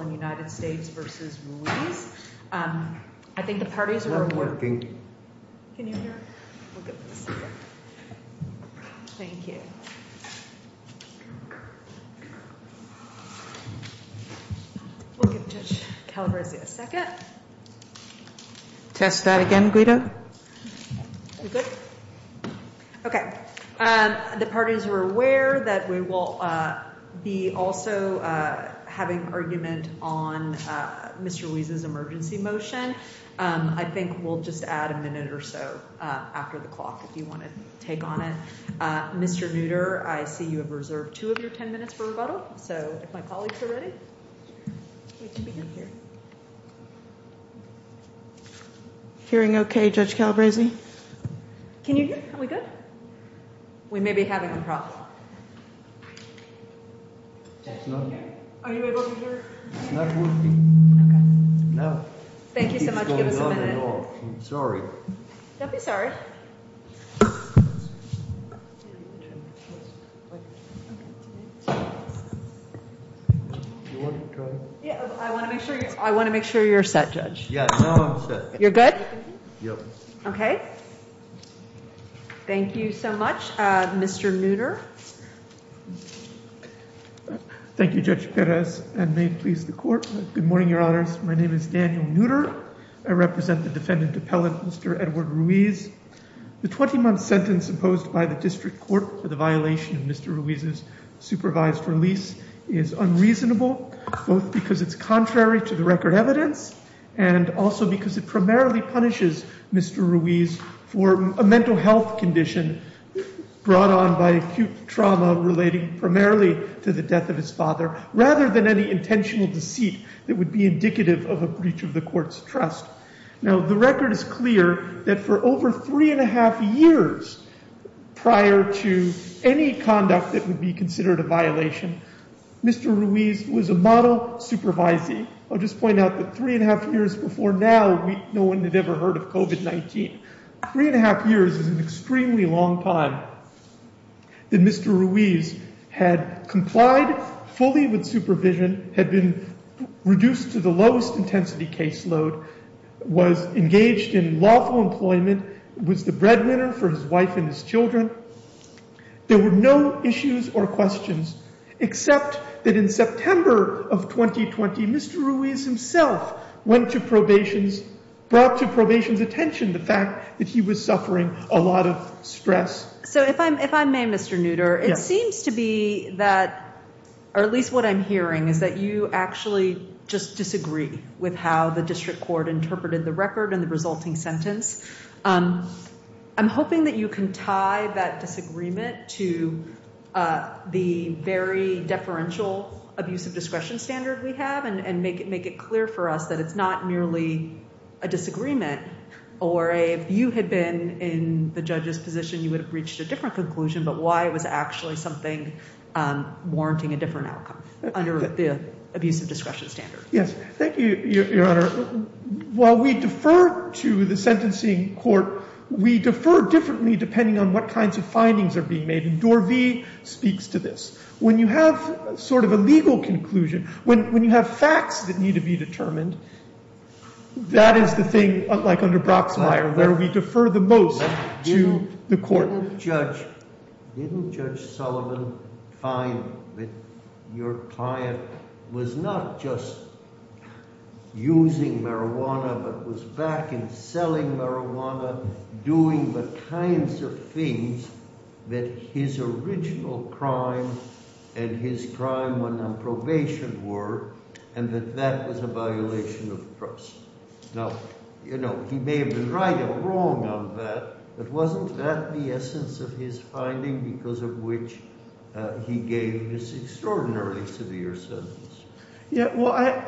and United States v. Ruiz. I think the parties were aware that we will be also having our argument on Mr. Ruiz's emergency motion. I think we'll just add a minute or so after the clock if you want to take on it. Mr. Nutter, I see you have reserved two of your ten minutes for rebuttal, so if my colleagues are ready. Hearing okay, Judge Calabresi. Can you hear? Are we good? We may be having a problem. Are you able to hear? It's not working. No. Thank you so much. Give us a minute. Sorry. Don't be sorry. Do you want to try? Yeah, I want to make sure you're set, Judge. Yeah, now I'm set. You're good? Yep. Okay. Thank you so much. Mr. Neutter. Thank you, Judge Perez, and may it please the court. Good morning, Your Honors. My name is Daniel Neutter. I represent the defendant appellate, Mr. Edward Ruiz. The 20-month sentence imposed by the district court for the violation of Mr. Ruiz's supervised release is unreasonable, both because it's contrary to the record evidence and also Mr. Neutter. Thank you, Judge Perez. I'm going to call on Mr. Neutter to come forward and speak. to the murder of Mr. Ruiz, for a mental health condition brought on by acute trauma, relating primarily to the death of his father, rather than any intentional deceit that would be indicative of a breach of the court's trust. Now, the record is clear that for over three and a half years prior to any conduct that would be considered a violation, Mr. Ruiz was a model supervisee. I'll just point out that three and a half years before now, no one had ever heard of COVID-19. Three and a half years is an extremely long time that Mr. Ruiz had complied fully with supervision, had been reduced to the lowest intensity caseload, was engaged in lawful employment, was the breadwinner for his wife and his children. There were no issues or questions, except that in September of 2020, Mr. Ruiz was released. Mr. Ruiz himself went to probation, brought to probation's attention the fact that he was suffering a lot of stress. So if I may, Mr. Nooter, it seems to be that, or at least what I'm hearing, is that you actually just disagree with how the district court interpreted the record and the resulting sentence. I'm hoping that you can tie that disagreement to the very deferential abuse of discretion standard we have and make it clear for us that it's not merely a disagreement or if you had been in the judge's position, you would have reached a different conclusion but why it was actually something warranting a different outcome under the abuse of discretion standard. Yes. Thank you, Your Honor. While we defer to the sentencing court, we defer differently depending on what kinds of findings are being made. And Dorvey speaks to this. When you have sort of a legal conclusion, when you have facts that need to be determined, that is the thing, like under Broxmire, where we defer the most to the court. Didn't Judge Sullivan find that your client was not just using marijuana but was back in selling marijuana, doing the kinds of things that his original crime was doing? And his crime when on probation were, and that that was a violation of trust. Now, you know, he may have been right or wrong on that, but wasn't that the essence of his finding because of which he gave this extraordinarily severe sentence? Yeah. Well,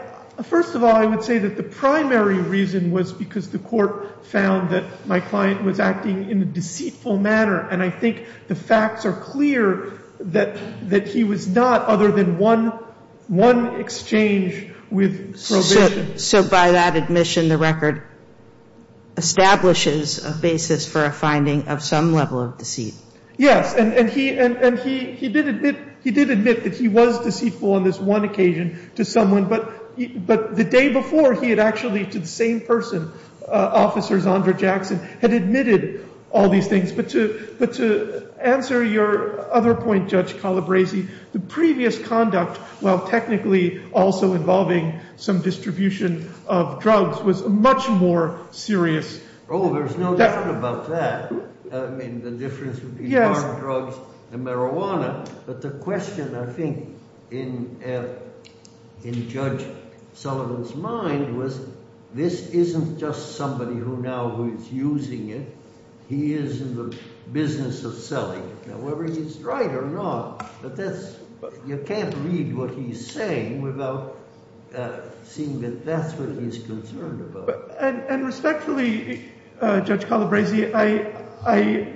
first of all, I would say that the primary reason was because the court found that my client was acting in a deceitful manner. And I think the facts are clear that he was not, other than one exchange with probation. So by that admission, the record establishes a basis for a finding of some level of deceit? Yes. And he did admit that he was deceitful on this one occasion to someone, but the day before, he had actually to the same person, Officer Zondre Jackson, had admitted all these things. But to answer your other point, Judge Calabresi, the previous conduct, while technically also involving some distribution of drugs, was much more serious. Oh, there's no doubt about that. I mean, the difference would be hard drugs and marijuana. But the question, I think, in Judge Sullivan's mind was, this isn't just somebody who now who is using it. He is in the business of selling. Now, whether he's right or not, you can't read what he's saying without seeing that that's what he's concerned about. And respectfully, Judge Calabresi, I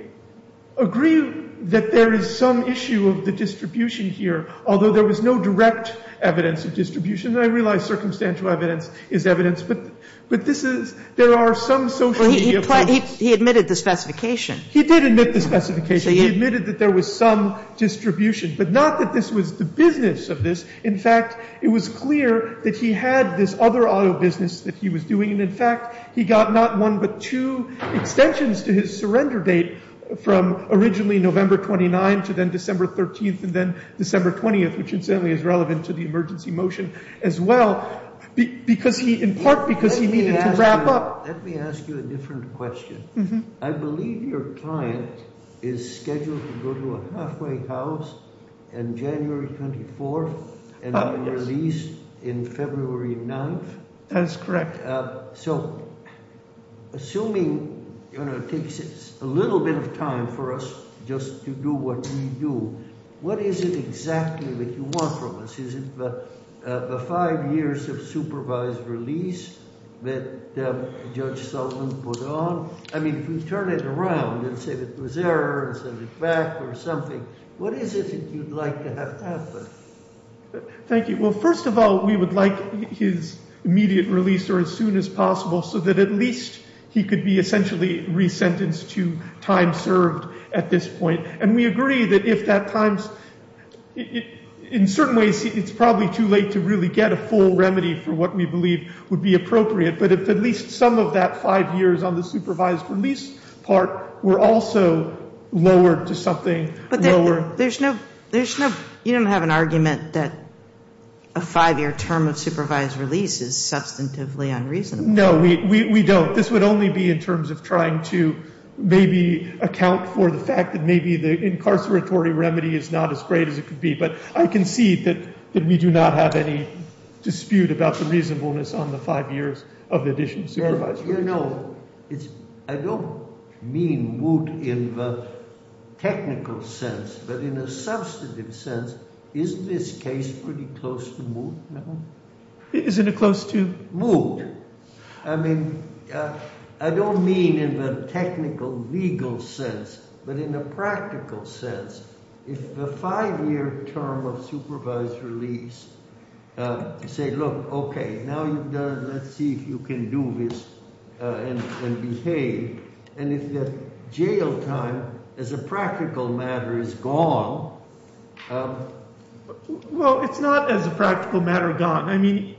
agree that there is some issue of the distribution here, although there was no direct evidence of distribution. And I realize circumstantial evidence is evidence. But this is, there are some socially. I mean, he admitted the specification. He did admit the specification. He admitted that there was some distribution. But not that this was the business of this. In fact, it was clear that he had this other auto business that he was doing. And in fact, he got not one but two extensions to his surrender date from originally November 29th to then December 13th and then December 20th, which incidentally is relevant to the emergency motion as well, because he, in part, because he needed to wrap up. Let me ask you a different question. I believe your client is scheduled to go to a halfway house on January 24th and be released in February 9th. That's correct. So assuming it takes a little bit of time for us just to do what you do, what is it exactly that you want from us? Is it something that Judge Sullivan put on? I mean, if we turn it around and say that it was error and send it back or something, what is it that you'd like to have happen? Thank you. Well, first of all, we would like his immediate release or as soon as possible so that at least he could be essentially re-sentenced to time served at this point. And we agree that if that time's, in certain ways, it's probably too late to really get a full remedy for what we believe would be appropriate. But if at least some of that five years on the supervised release part were also lowered to something lower. But there's no, you don't have an argument that a five-year term of supervised release is substantively unreasonable. No, we don't. This would only be in terms of trying to maybe account for the fact that maybe the incarceratory remedy is not as great as it could be. But I concede that we do not have any dispute about the reasonableness on the five years. Of the addition of supervised release. You know, I don't mean moot in the technical sense. But in a substantive sense, isn't this case pretty close to moot? Isn't it close to? Moot. I mean, I don't mean in the technical, legal sense. But in a practical sense, if the five-year term of supervised release, say, look, okay, now let's see if you can do this and behave. And if the jail time as a practical matter is gone. Well, it's not as a practical matter gone. I mean,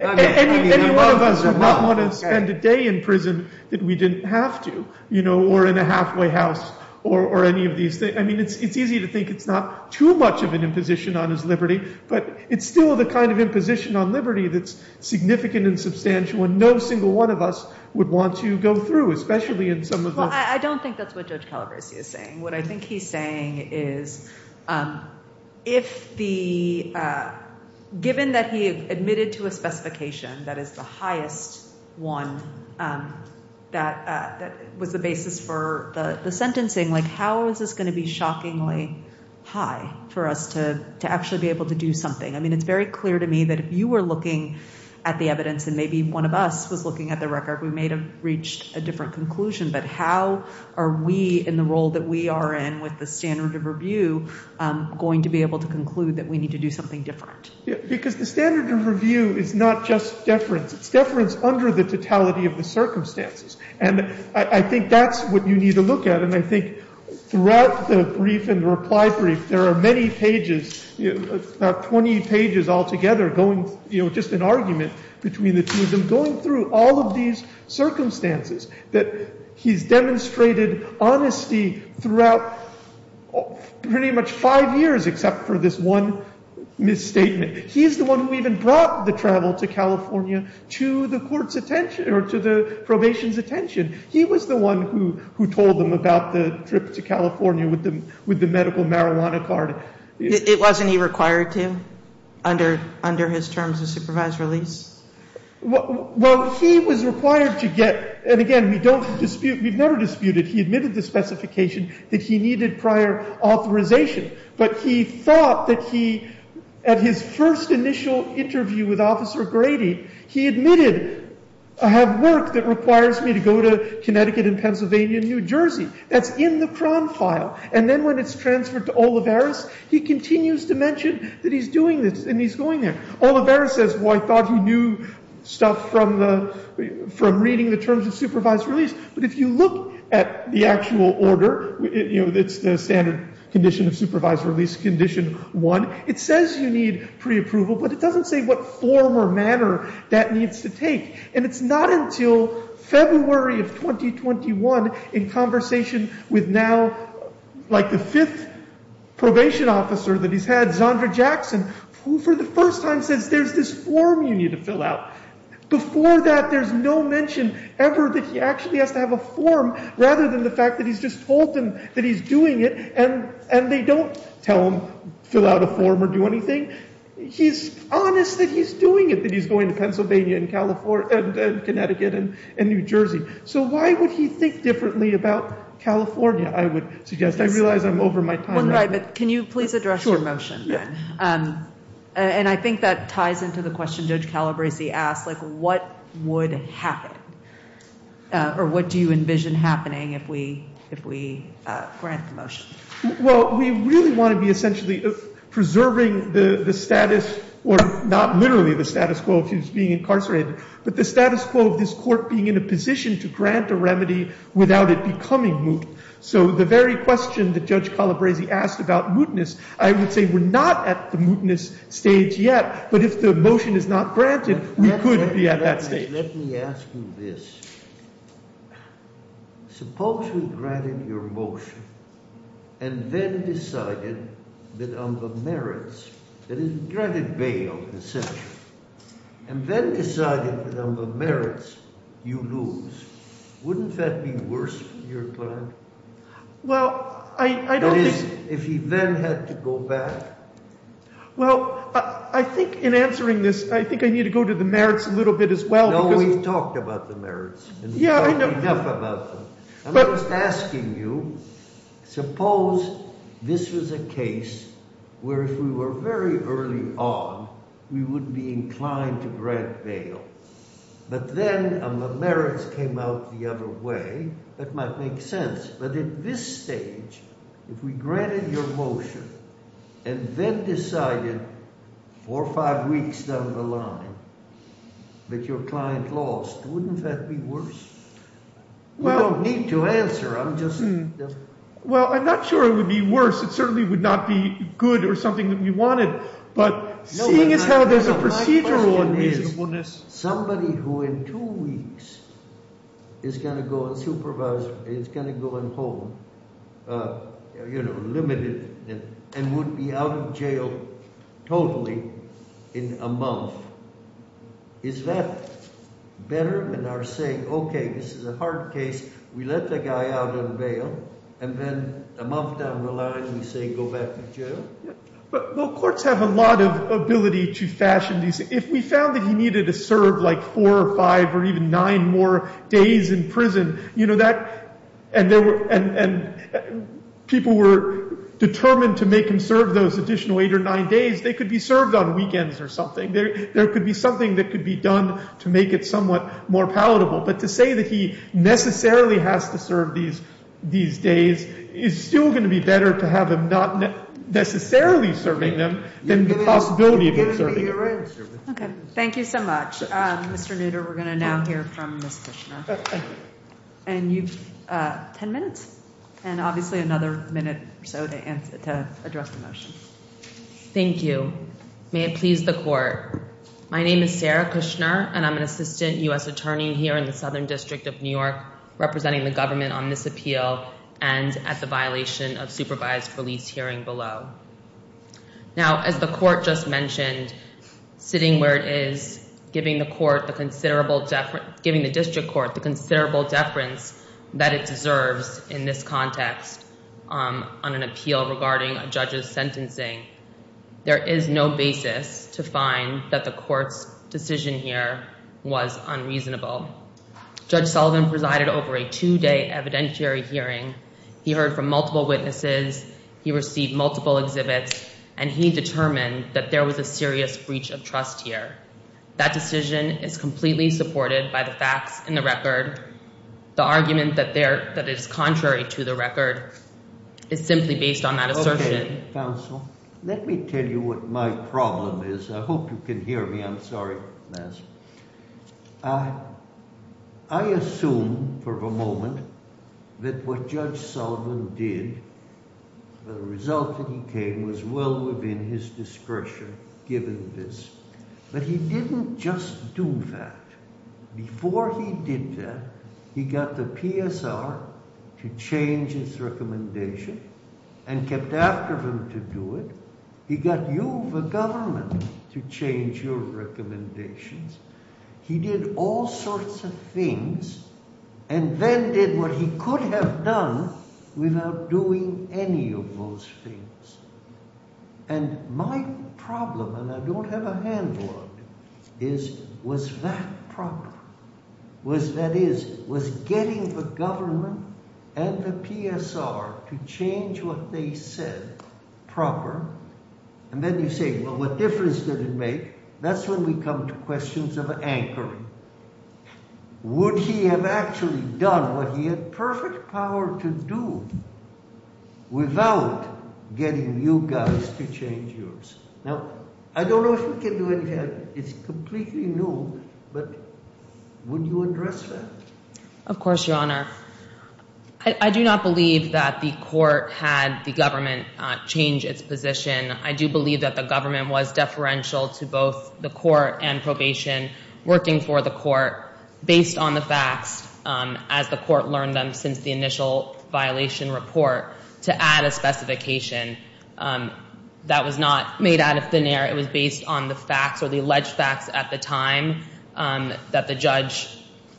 any one of us would not want to spend a day in prison that we didn't have to. You know, or in a halfway house or any of these things. I mean, it's easy to think it's not too much of an imposition on his liberty. But it's still the kind of imposition on liberty that's significant and substantial. And no single one of us would want to go through, especially in some of the. Well, I don't think that's what Judge Calabresi is saying. What I think he's saying is if the. Given that he admitted to a specification that is the highest one. That was the basis for the sentencing. How is this going to be shockingly high for us to actually be able to do something? I mean, it's very clear to me that if you were looking at the evidence and maybe one of us was looking at the record, we may have reached a different conclusion. But how are we in the role that we are in with the standard of review going to be able to conclude that we need to do something different? Because the standard of review is not just deference. It's deference under the totality of the circumstances. And I think that's what you need to look at. And I think throughout the brief and reply brief, there are many pages, about 20 pages altogether going, you know, just an argument between the two of them going through all of these circumstances that he's demonstrated honesty throughout pretty much five years except for this one misstatement. He's the one who even brought the travel to California to the court's attention or to the probation's attention. He was the one who told them about the trip to California with the medical marijuana card. It wasn't he required to under his terms of supervised release? Well, he was required to get, and again, we don't dispute, we've never disputed, he admitted the specification that he needed prior authorization. But he thought that he, at his first initial interview with Officer Grady, he admitted, I have work that requires me to go to Connecticut and Pennsylvania and New Jersey. That's in the Cron file. And then when it's transferred to Olivares, he continues to mention that he's doing this and he's going there. Olivares says, well, I thought he knew stuff from reading the terms of supervised release. But if you look at the actual order, you know, it's the standard condition of supervised release, condition one. It says you need preapproval, but it doesn't say what form or manner that needs to take. And it's not until February of 2021, in conversation with now like the fifth probation officer that he's had, Zondre Jackson, who for the first time says there's this form you need to fill out. Before that, there's no mention ever that he actually has to have a form rather than the fact that he's just told them that he's doing it. And they don't tell him, fill out a form or do anything. He's honest that he's doing it, that he's going to Pennsylvania and Connecticut and New Jersey. So why would he think differently about California, I would suggest. I realize I'm over my time. Can you please address your motion? And I think that ties into the question Judge Calabresi asked, like what would happen or what do you envision happening if we grant the motion? Well, we really want to be essentially preserving the status or not literally the status quo of being incarcerated, but the status quo of this court being in a position to grant a remedy without it becoming moot. So the very question that Judge Calabresi asked about mootness, I would say we're not at the mootness stage yet. But if the motion is not granted, we could be at that stage. Let me ask you this. Suppose we granted your motion and then decided that on the merits, that is, granted bail, essentially, and then decided that on the merits, you lose. Wouldn't that be worse for your client? Well, I don't think— That is, if he then had to go back? Well, I think in answering this, I think I need to go to the merits a little bit as well because— No, we've talked about the merits, and we've talked enough about them. I'm just asking you, suppose this was a case where if we were very early on, we would be inclined to grant bail, but then the merits came out the other way. That might make sense. But at this stage, if we granted your motion and then decided four or five weeks down the line that your client lost, wouldn't that be worse? Well— You don't need to answer. I'm just— Well, I'm not sure it would be worse. It certainly would not be good or something that we wanted. But seeing as how there's a procedural unreasonableness— No, but my question is somebody who in two weeks is going to go on supervisor, is going to go on hold, you know, limited, and would be out of jail totally in a month. Is that better than our saying, okay, this is a hard case, we let the guy out on bail, and then a month down the line we say go back to jail? Well, courts have a lot of ability to fashion these. If we found that he needed to serve like four or five or even nine more days in prison, you know, that— and people were determined to make him serve those additional eight or nine days, they could be served on weekends or something. There could be something that could be done to make it somewhat more palatable. But to say that he necessarily has to serve these days is still going to be better to have him not necessarily serving them than the possibility of him serving them. Okay. Thank you so much. Mr. Nooter, we're going to now hear from Ms. Fishner. And you've ten minutes and obviously another minute or so to address the motion. Thank you. May it please the court. My name is Sarah Fishner, and I'm an assistant U.S. attorney here in the Southern District of New York representing the government on this appeal and at the violation of supervised release hearing below. Now, as the court just mentioned, sitting where it is, giving the court the considerable— giving the district court the considerable deference that it deserves in this context on an appeal regarding a judge's sentencing, there is no basis to find that the court's decision here was unreasonable. Judge Sullivan presided over a two-day evidentiary hearing. He heard from multiple witnesses. He received multiple exhibits, and he determined that there was a serious breach of trust here. The argument that it is contrary to the record is simply based on that assertion. Okay, counsel. Let me tell you what my problem is. I hope you can hear me. I'm sorry. I assume for a moment that what Judge Sullivan did, the result that he came was well within his discretion given this. But he didn't just do that. Before he did that, he got the PSR to change his recommendation and kept after him to do it. He got you, the government, to change your recommendations. He did all sorts of things and then did what he could have done without doing any of those things. And my problem, and I don't have a handle on it, is was that proper? That is, was getting the government and the PSR to change what they said proper? And then you say, well, what difference did it make? That's when we come to questions of anchoring. Would he have actually done what he had perfect power to do without getting you guys to change yours? Now, I don't know if you can do anything. It's completely new. But would you address that? Of course, Your Honor. I do not believe that the court had the government change its position. I do believe that the government was deferential to both the court and probation working for the court based on the facts as the court learned them since the initial violation report to add a specification. That was not made out of thin air. It was based on the facts or the alleged facts at the time that the judge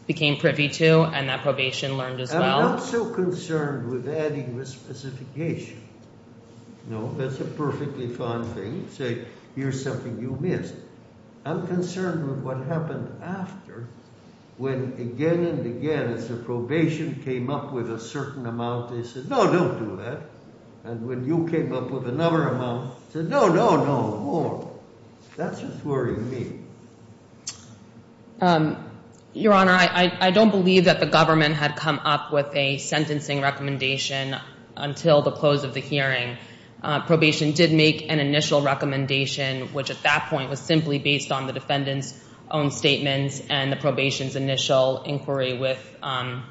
became privy to and that probation learned as well. I'm not so concerned with adding the specification. No, that's a perfectly fine thing. Say, here's something you missed. I'm concerned with what happened after when again and again as the probation came up with a certain amount, they said, no, don't do that. And when you came up with another amount, they said, no, no, no, more. That's what's worrying me. Your Honor, I don't believe that the government had come up with a sentencing recommendation until the close of the hearing. Probation did make an initial recommendation, which at that point was simply based on the defendant's own statements and the probation's initial inquiry with the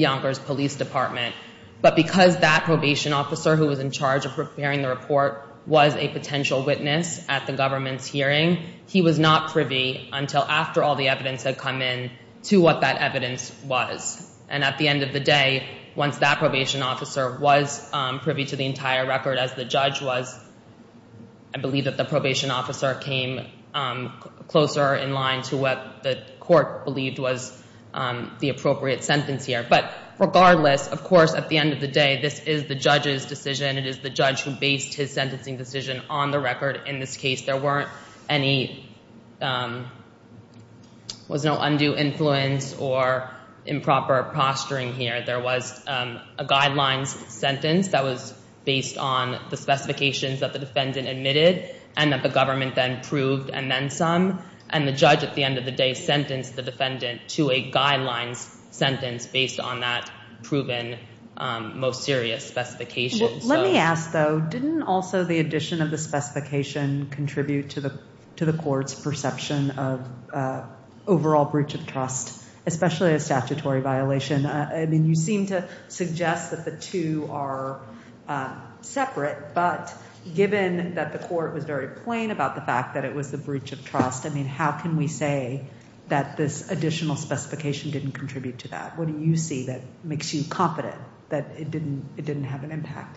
Yonkers Police Department. But because that probation officer who was in charge of preparing the report was a potential witness at the government's hearing, he was not privy until after all the evidence had come in to what that evidence was. And at the end of the day, once that probation officer was privy to the entire record as the judge was, I believe that the probation officer came closer in line to what the court believed was the appropriate sentence here. But regardless, of course, at the end of the day, this is the judge's decision. It is the judge who based his sentencing decision on the record in this case. There was no undue influence or improper posturing here. There was a guidelines sentence that was based on the specifications that the defendant admitted and that the government then proved and then some. And the judge at the end of the day sentenced the defendant to a guidelines sentence based on that proven most serious specifications. Let me ask, though, didn't also the addition of the specification contribute to the court's perception of overall breach of trust, especially a statutory violation? I mean, you seem to suggest that the two are separate. But given that the court was very plain about the fact that it was a breach of trust, I mean, how can we say that this additional specification didn't contribute to that? What do you see that makes you confident that it didn't have an impact?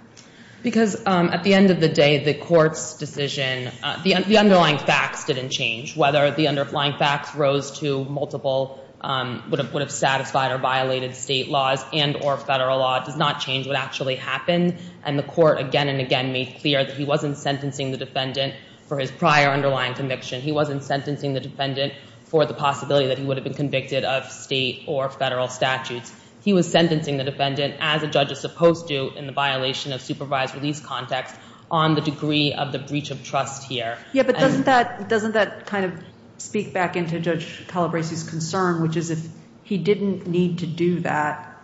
Because at the end of the day, the court's decision, the underlying facts didn't change. Whether the underlying facts rose to multiple would have satisfied or violated state laws and or federal law does not change what actually happened. And the court again and again made clear that he wasn't sentencing the defendant for his prior underlying conviction. He wasn't sentencing the defendant for the possibility that he would have been convicted of state or federal statutes. He was sentencing the defendant as a judge is supposed to in the violation of supervised release context on the degree of the breach of trust here. Yeah, but doesn't that doesn't that kind of speak back into Judge Calabresi's concern, which is if he didn't need to do that,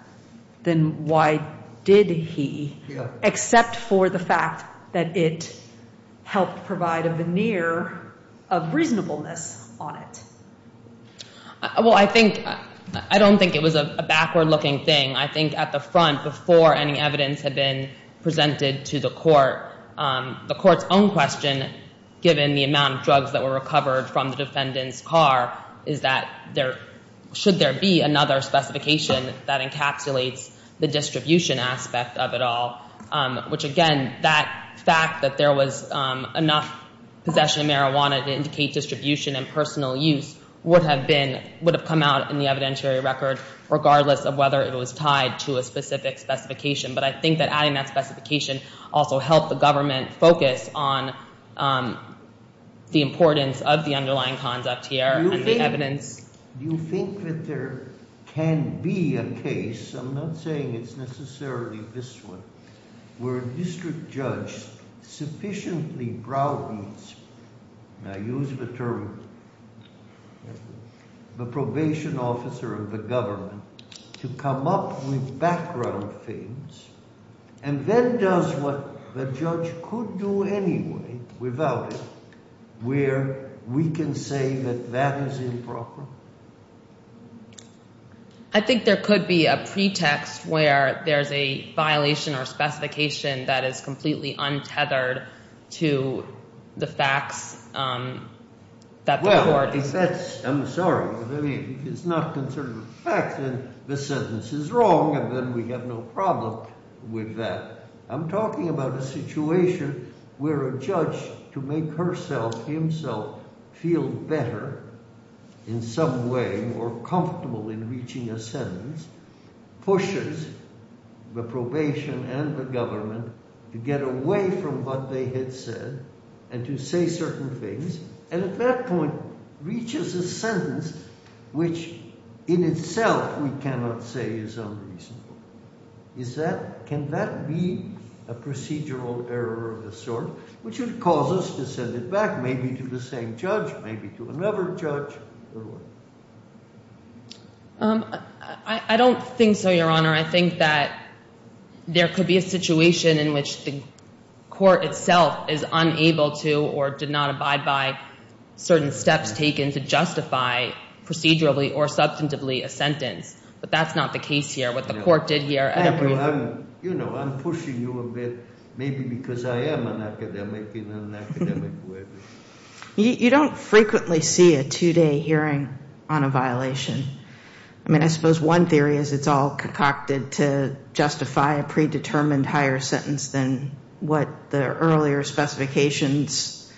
then why did he? Except for the fact that it helped provide a veneer of reasonableness on it? Well, I think I don't think it was a backward looking thing. I think at the front before any evidence had been presented to the court, the court's own question, given the amount of drugs that were recovered from the defendant's car, is that there should there be another specification that encapsulates the distribution aspect of it all? Which, again, that fact that there was enough possession of marijuana to indicate distribution and personal use would have been would have come out in the evidentiary record, regardless of whether it was tied to a specific specification. But I think that adding that specification also helped the government focus on the importance of the underlying conduct here and the evidence. Do you think that there can be a case, I'm not saying it's necessarily this one, where a district judge sufficiently browbeats, and I use the term the probation officer of the government, to come up with background things and then does what the judge could do anyway without it, where we can say that that is improper? I think there could be a pretext where there's a violation or specification that is completely untethered to the facts that the court... Well, if that's, I'm sorry, if it's not concerned with facts, then the sentence is wrong, and then we have no problem with that. I'm talking about a situation where a judge, to make herself, himself, feel better in some way or comfortable in reaching a sentence, pushes the probation and the government to get away from what they had said and to say certain things, and at that point reaches a sentence which in itself we cannot say is unreasonable. Can that be a procedural error of the sort which would cause us to send it back maybe to the same judge, maybe to another judge? I don't think so, Your Honor. I think that there could be a situation in which the court itself is unable to or did not abide by certain steps taken to justify procedurally or substantively a sentence, but that's not the case here, what the court did here... You know, I'm pushing you a bit, maybe because I am an academic in an academic way. You don't frequently see a two-day hearing on a violation. I mean, I suppose one theory is it's all concocted to justify a predetermined higher sentence than what the earlier specifications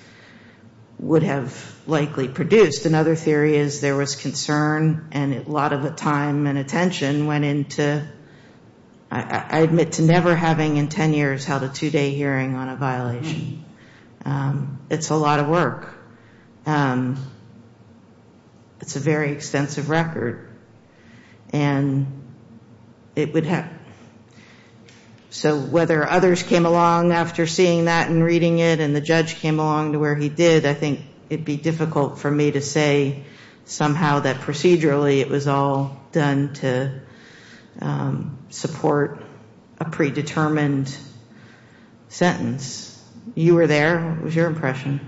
would have likely produced. Just another theory is there was concern and a lot of the time and attention went into, I admit, to never having in ten years held a two-day hearing on a violation. It's a lot of work. It's a very extensive record, and it would have... So whether others came along after seeing that and reading it and the judge came along to where he did, I think it would be difficult for me to say somehow that procedurally it was all done to support a predetermined sentence. You were there. What was your impression?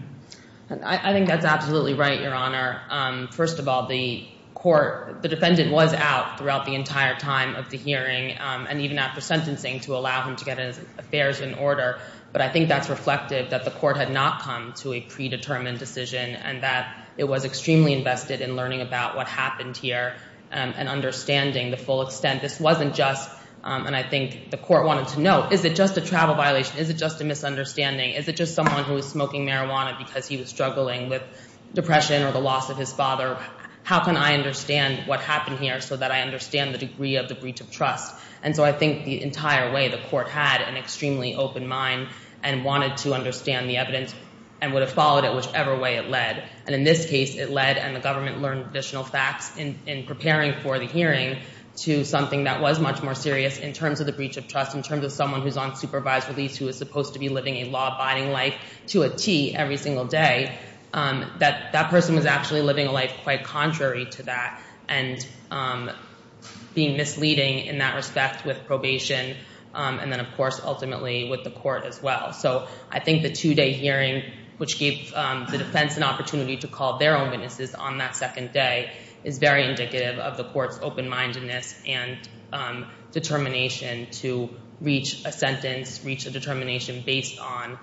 I think that's absolutely right, Your Honor. First of all, the court, the defendant was out throughout the entire time of the hearing and even after sentencing to allow him to get his affairs in order, but I think that's reflective that the court had not come to a predetermined decision and that it was extremely invested in learning about what happened here and understanding the full extent. This wasn't just, and I think the court wanted to know, is it just a travel violation? Is it just a misunderstanding? Is it just someone who was smoking marijuana because he was struggling with depression or the loss of his father? How can I understand what happened here so that I understand the degree of the breach of trust? And so I think the entire way, the court had an extremely open mind and wanted to understand the evidence and would have followed it whichever way it led. And in this case, it led and the government learned additional facts in preparing for the hearing to something that was much more serious in terms of the breach of trust, in terms of someone who's on supervised release who was supposed to be living a law-abiding life to a T every single day, that that person was actually living a life quite contrary to that and being misleading in that respect with probation and then, of course, ultimately with the court as well. So I think the two-day hearing, which gave the defense an opportunity to call their own witnesses on that second day, is very indicative of the court's open-mindedness and determination to reach a sentence, reach a determination based on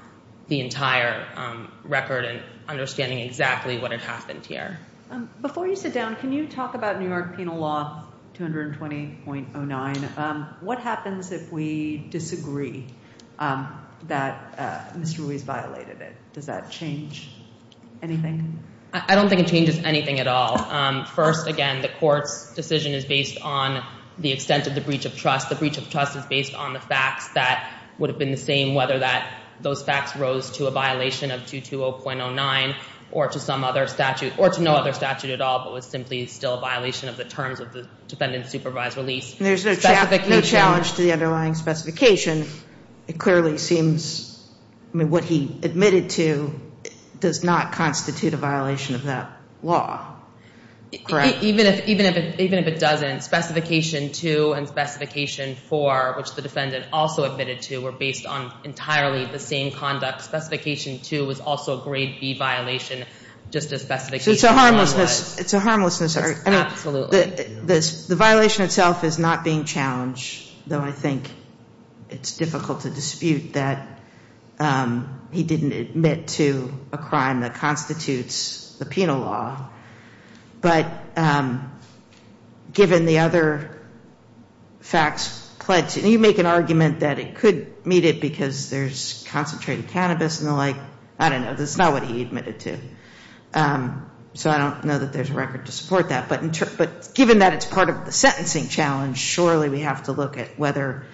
the entire record and understanding exactly what had happened here. Before you sit down, can you talk about New York Penal Law 220.09? What happens if we disagree that Mr. Ruiz violated it? Does that change anything? I don't think it changes anything at all. First, again, the court's decision is based on the extent of the breach of trust. The breach of trust is based on the facts that would have been the same, whether those facts rose to a violation of 220.09 or to some other statute or to no other statute at all, but was simply still a violation of the terms of the defendant's supervised release. There's no challenge to the underlying specification. It clearly seems what he admitted to does not constitute a violation of that law, correct? Even if it doesn't, Specification 2 and Specification 4, which the defendant also admitted to, were based on entirely the same conduct. Specification 2 was also a Grade B violation, just as Specification 1 was. So it's a harmlessness. It's a harmlessness. Absolutely. The violation itself is not being challenged, though I think it's difficult to dispute that he didn't admit to a crime that constitutes the penal law. But given the other facts pledged, you make an argument that it could meet it because there's concentrated cannabis and the like. I don't know. That's not what he admitted to. So I don't know that there's a record to support that. But given that it's part of the sentencing challenge, surely we have to look at whether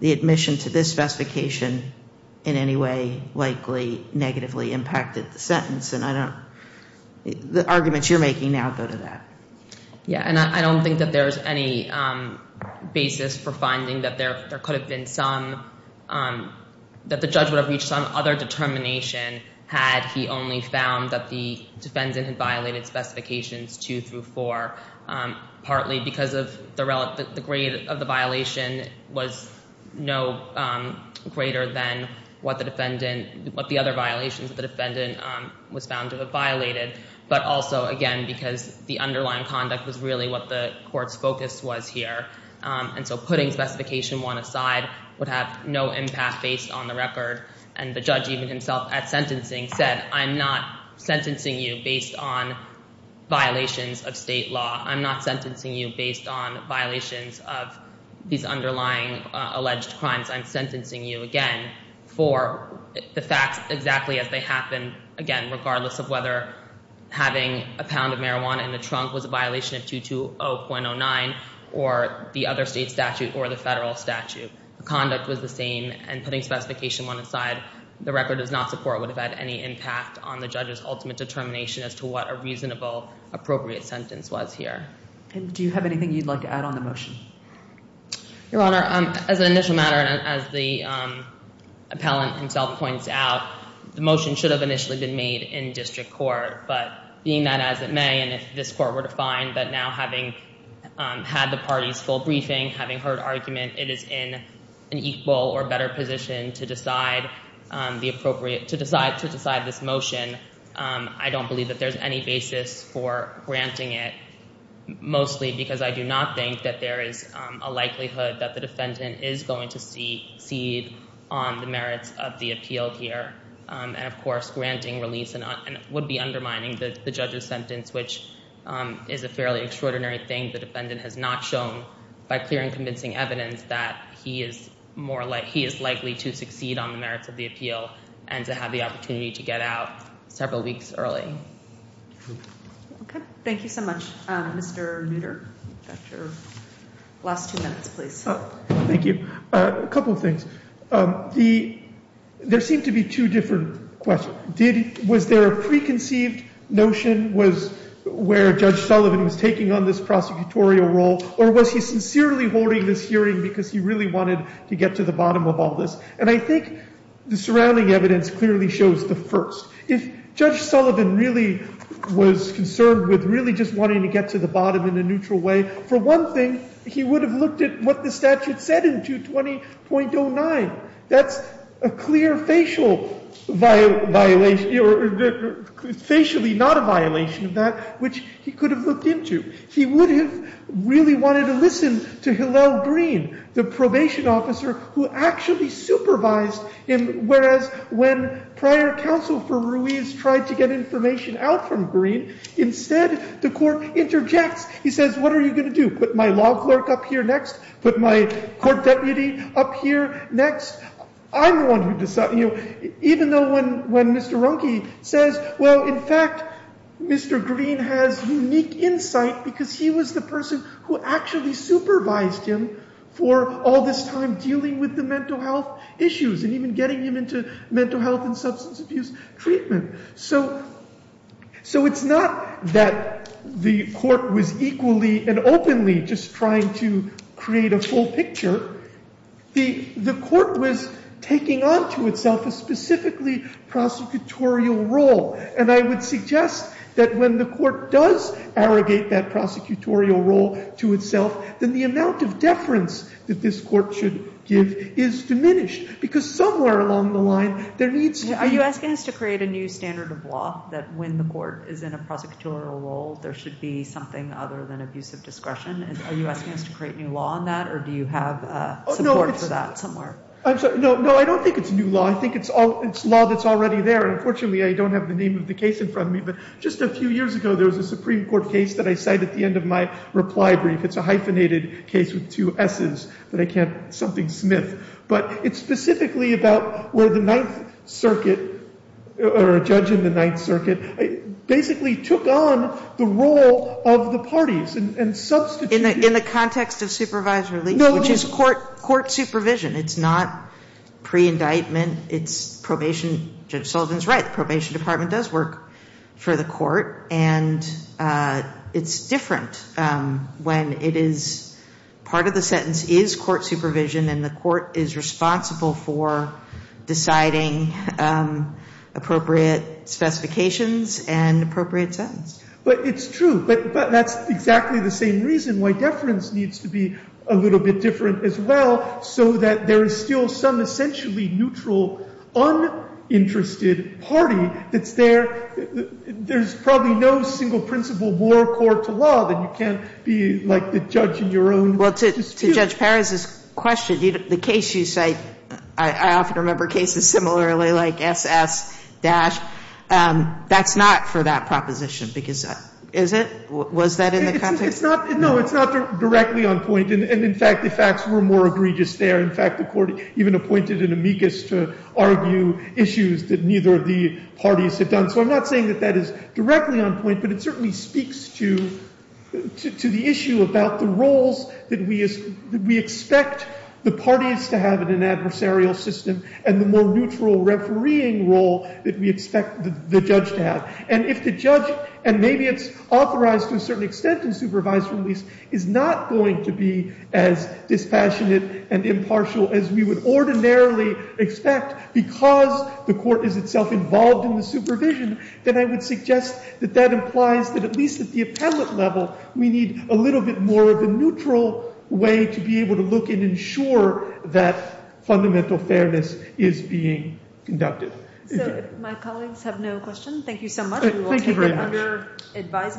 the admission to this specification in any way likely negatively impacted the sentence. And the arguments you're making now go to that. Yeah, and I don't think that there's any basis for finding that there could have been some, that the judge would have reached some other determination had he only found that the defendant had violated Specifications 2 through 4, partly because the grade of the violation was no greater than what the other violations the defendant was found to have violated, but also, again, because the underlying conduct was really what the court's focus was here. And so putting Specification 1 aside would have no impact based on the record. And the judge even himself at sentencing said, I'm not sentencing you based on violations of state law. I'm not sentencing you based on violations of these underlying alleged crimes. I'm sentencing you, again, for the facts exactly as they happen, again, regardless of whether having a pound of marijuana in the trunk was a violation of 220.09 or the other state statute or the federal statute. The conduct was the same, and putting Specification 1 aside, the record does not support it would have had any impact on the judge's ultimate determination as to what a reasonable, appropriate sentence was here. And do you have anything you'd like to add on the motion? Your Honor, as an initial matter and as the appellant himself points out, the motion should have initially been made in district court, but being that as it may and if this court were to find that now having had the party's full briefing, having heard argument, it is in an equal or better position to decide this motion, I don't believe that there's any basis for granting it, mostly because I do not think that there is a likelihood that the defendant is going to cede on the merits of the appeal here. And, of course, granting release would be undermining the judge's sentence, which is a fairly extraordinary thing. The defendant has not shown, by clear and convincing evidence, that he is likely to succeed on the merits of the appeal and to have the opportunity to get out several weeks early. Okay. Thank you so much. Mr. Nutter, your last two minutes, please. Thank you. A couple of things. There seem to be two different questions. Was there a preconceived notion where Judge Sullivan was taking on this prosecutorial role, or was he sincerely holding this hearing because he really wanted to get to the bottom of all this? And I think the surrounding evidence clearly shows the first. If Judge Sullivan really was concerned with really just wanting to get to the bottom in a neutral way, for one thing, he would have looked at what the statute said in 220.09. That's a clear facial violation, or facially not a violation of that, which he could have looked into. He would have really wanted to listen to Hillel Greene, the probation officer who actually supervised him, whereas when prior counsel for Ruiz tried to get information out from Greene, instead the court interjects. He says, what are you going to do, put my law clerk up here next, put my court deputy up here next? I'm the one who decides. Even though when Mr. Runke says, well, in fact, Mr. Greene has unique insight because he was the person who actually supervised him for all this time dealing with the mental health issues and even getting him into mental health and substance abuse treatment. So it's not that the court was equally and openly just trying to create a full picture. The court was taking on to itself a specifically prosecutorial role. And I would suggest that when the court does arrogate that prosecutorial role to itself, then the amount of deference that this court should give is diminished, because somewhere along the line there needs to be ---- There needs to be a standard of law that when the court is in a prosecutorial role, there should be something other than abusive discretion. Are you asking us to create new law on that, or do you have support for that somewhere? No, I don't think it's new law. I think it's law that's already there. Unfortunately, I don't have the name of the case in front of me, but just a few years ago there was a Supreme Court case that I cited at the end of my reply brief. It's a hyphenated case with two S's that I can't something Smith. But it's specifically about where the Ninth Circuit or a judge in the Ninth Circuit basically took on the role of the parties and substituted. In the context of supervisory relief, which is court supervision. It's not pre-indictment. It's probation. Judge Sullivan is right. The probation department does work for the court. And it's different when it is part of the sentence is court supervision and the court is responsible for deciding appropriate specifications and appropriate sentence. But it's true. But that's exactly the same reason why deference needs to be a little bit different as well so that there is still some essentially neutral uninterested party that's there. There's probably no single principle more core to law than you can't be like the judge in your own dispute. Well, to Judge Perez's question, the case you cite, I often remember cases similarly like SS-, that's not for that proposition, because is it? Was that in the context? No, it's not directly on point. And in fact, the facts were more egregious there. In fact, the court even appointed an amicus to argue issues that neither of the parties had done. So I'm not saying that that is directly on point, but it certainly speaks to the issue about the roles that we expect the parties to have in an adversarial system and the more neutral refereeing role that we expect the judge to have. And if the judge, and maybe it's authorized to a certain extent in supervised release, is not going to be as dispassionate and impartial as we would ordinarily expect because the court is itself involved in the supervision, then I would suggest that that implies that at least at the appellate level, we need a little bit more of a neutral way to be able to look and ensure that fundamental fairness is being conducted. So if my colleagues have no questions, thank you so much. Thank you very much. We will take it under advisement.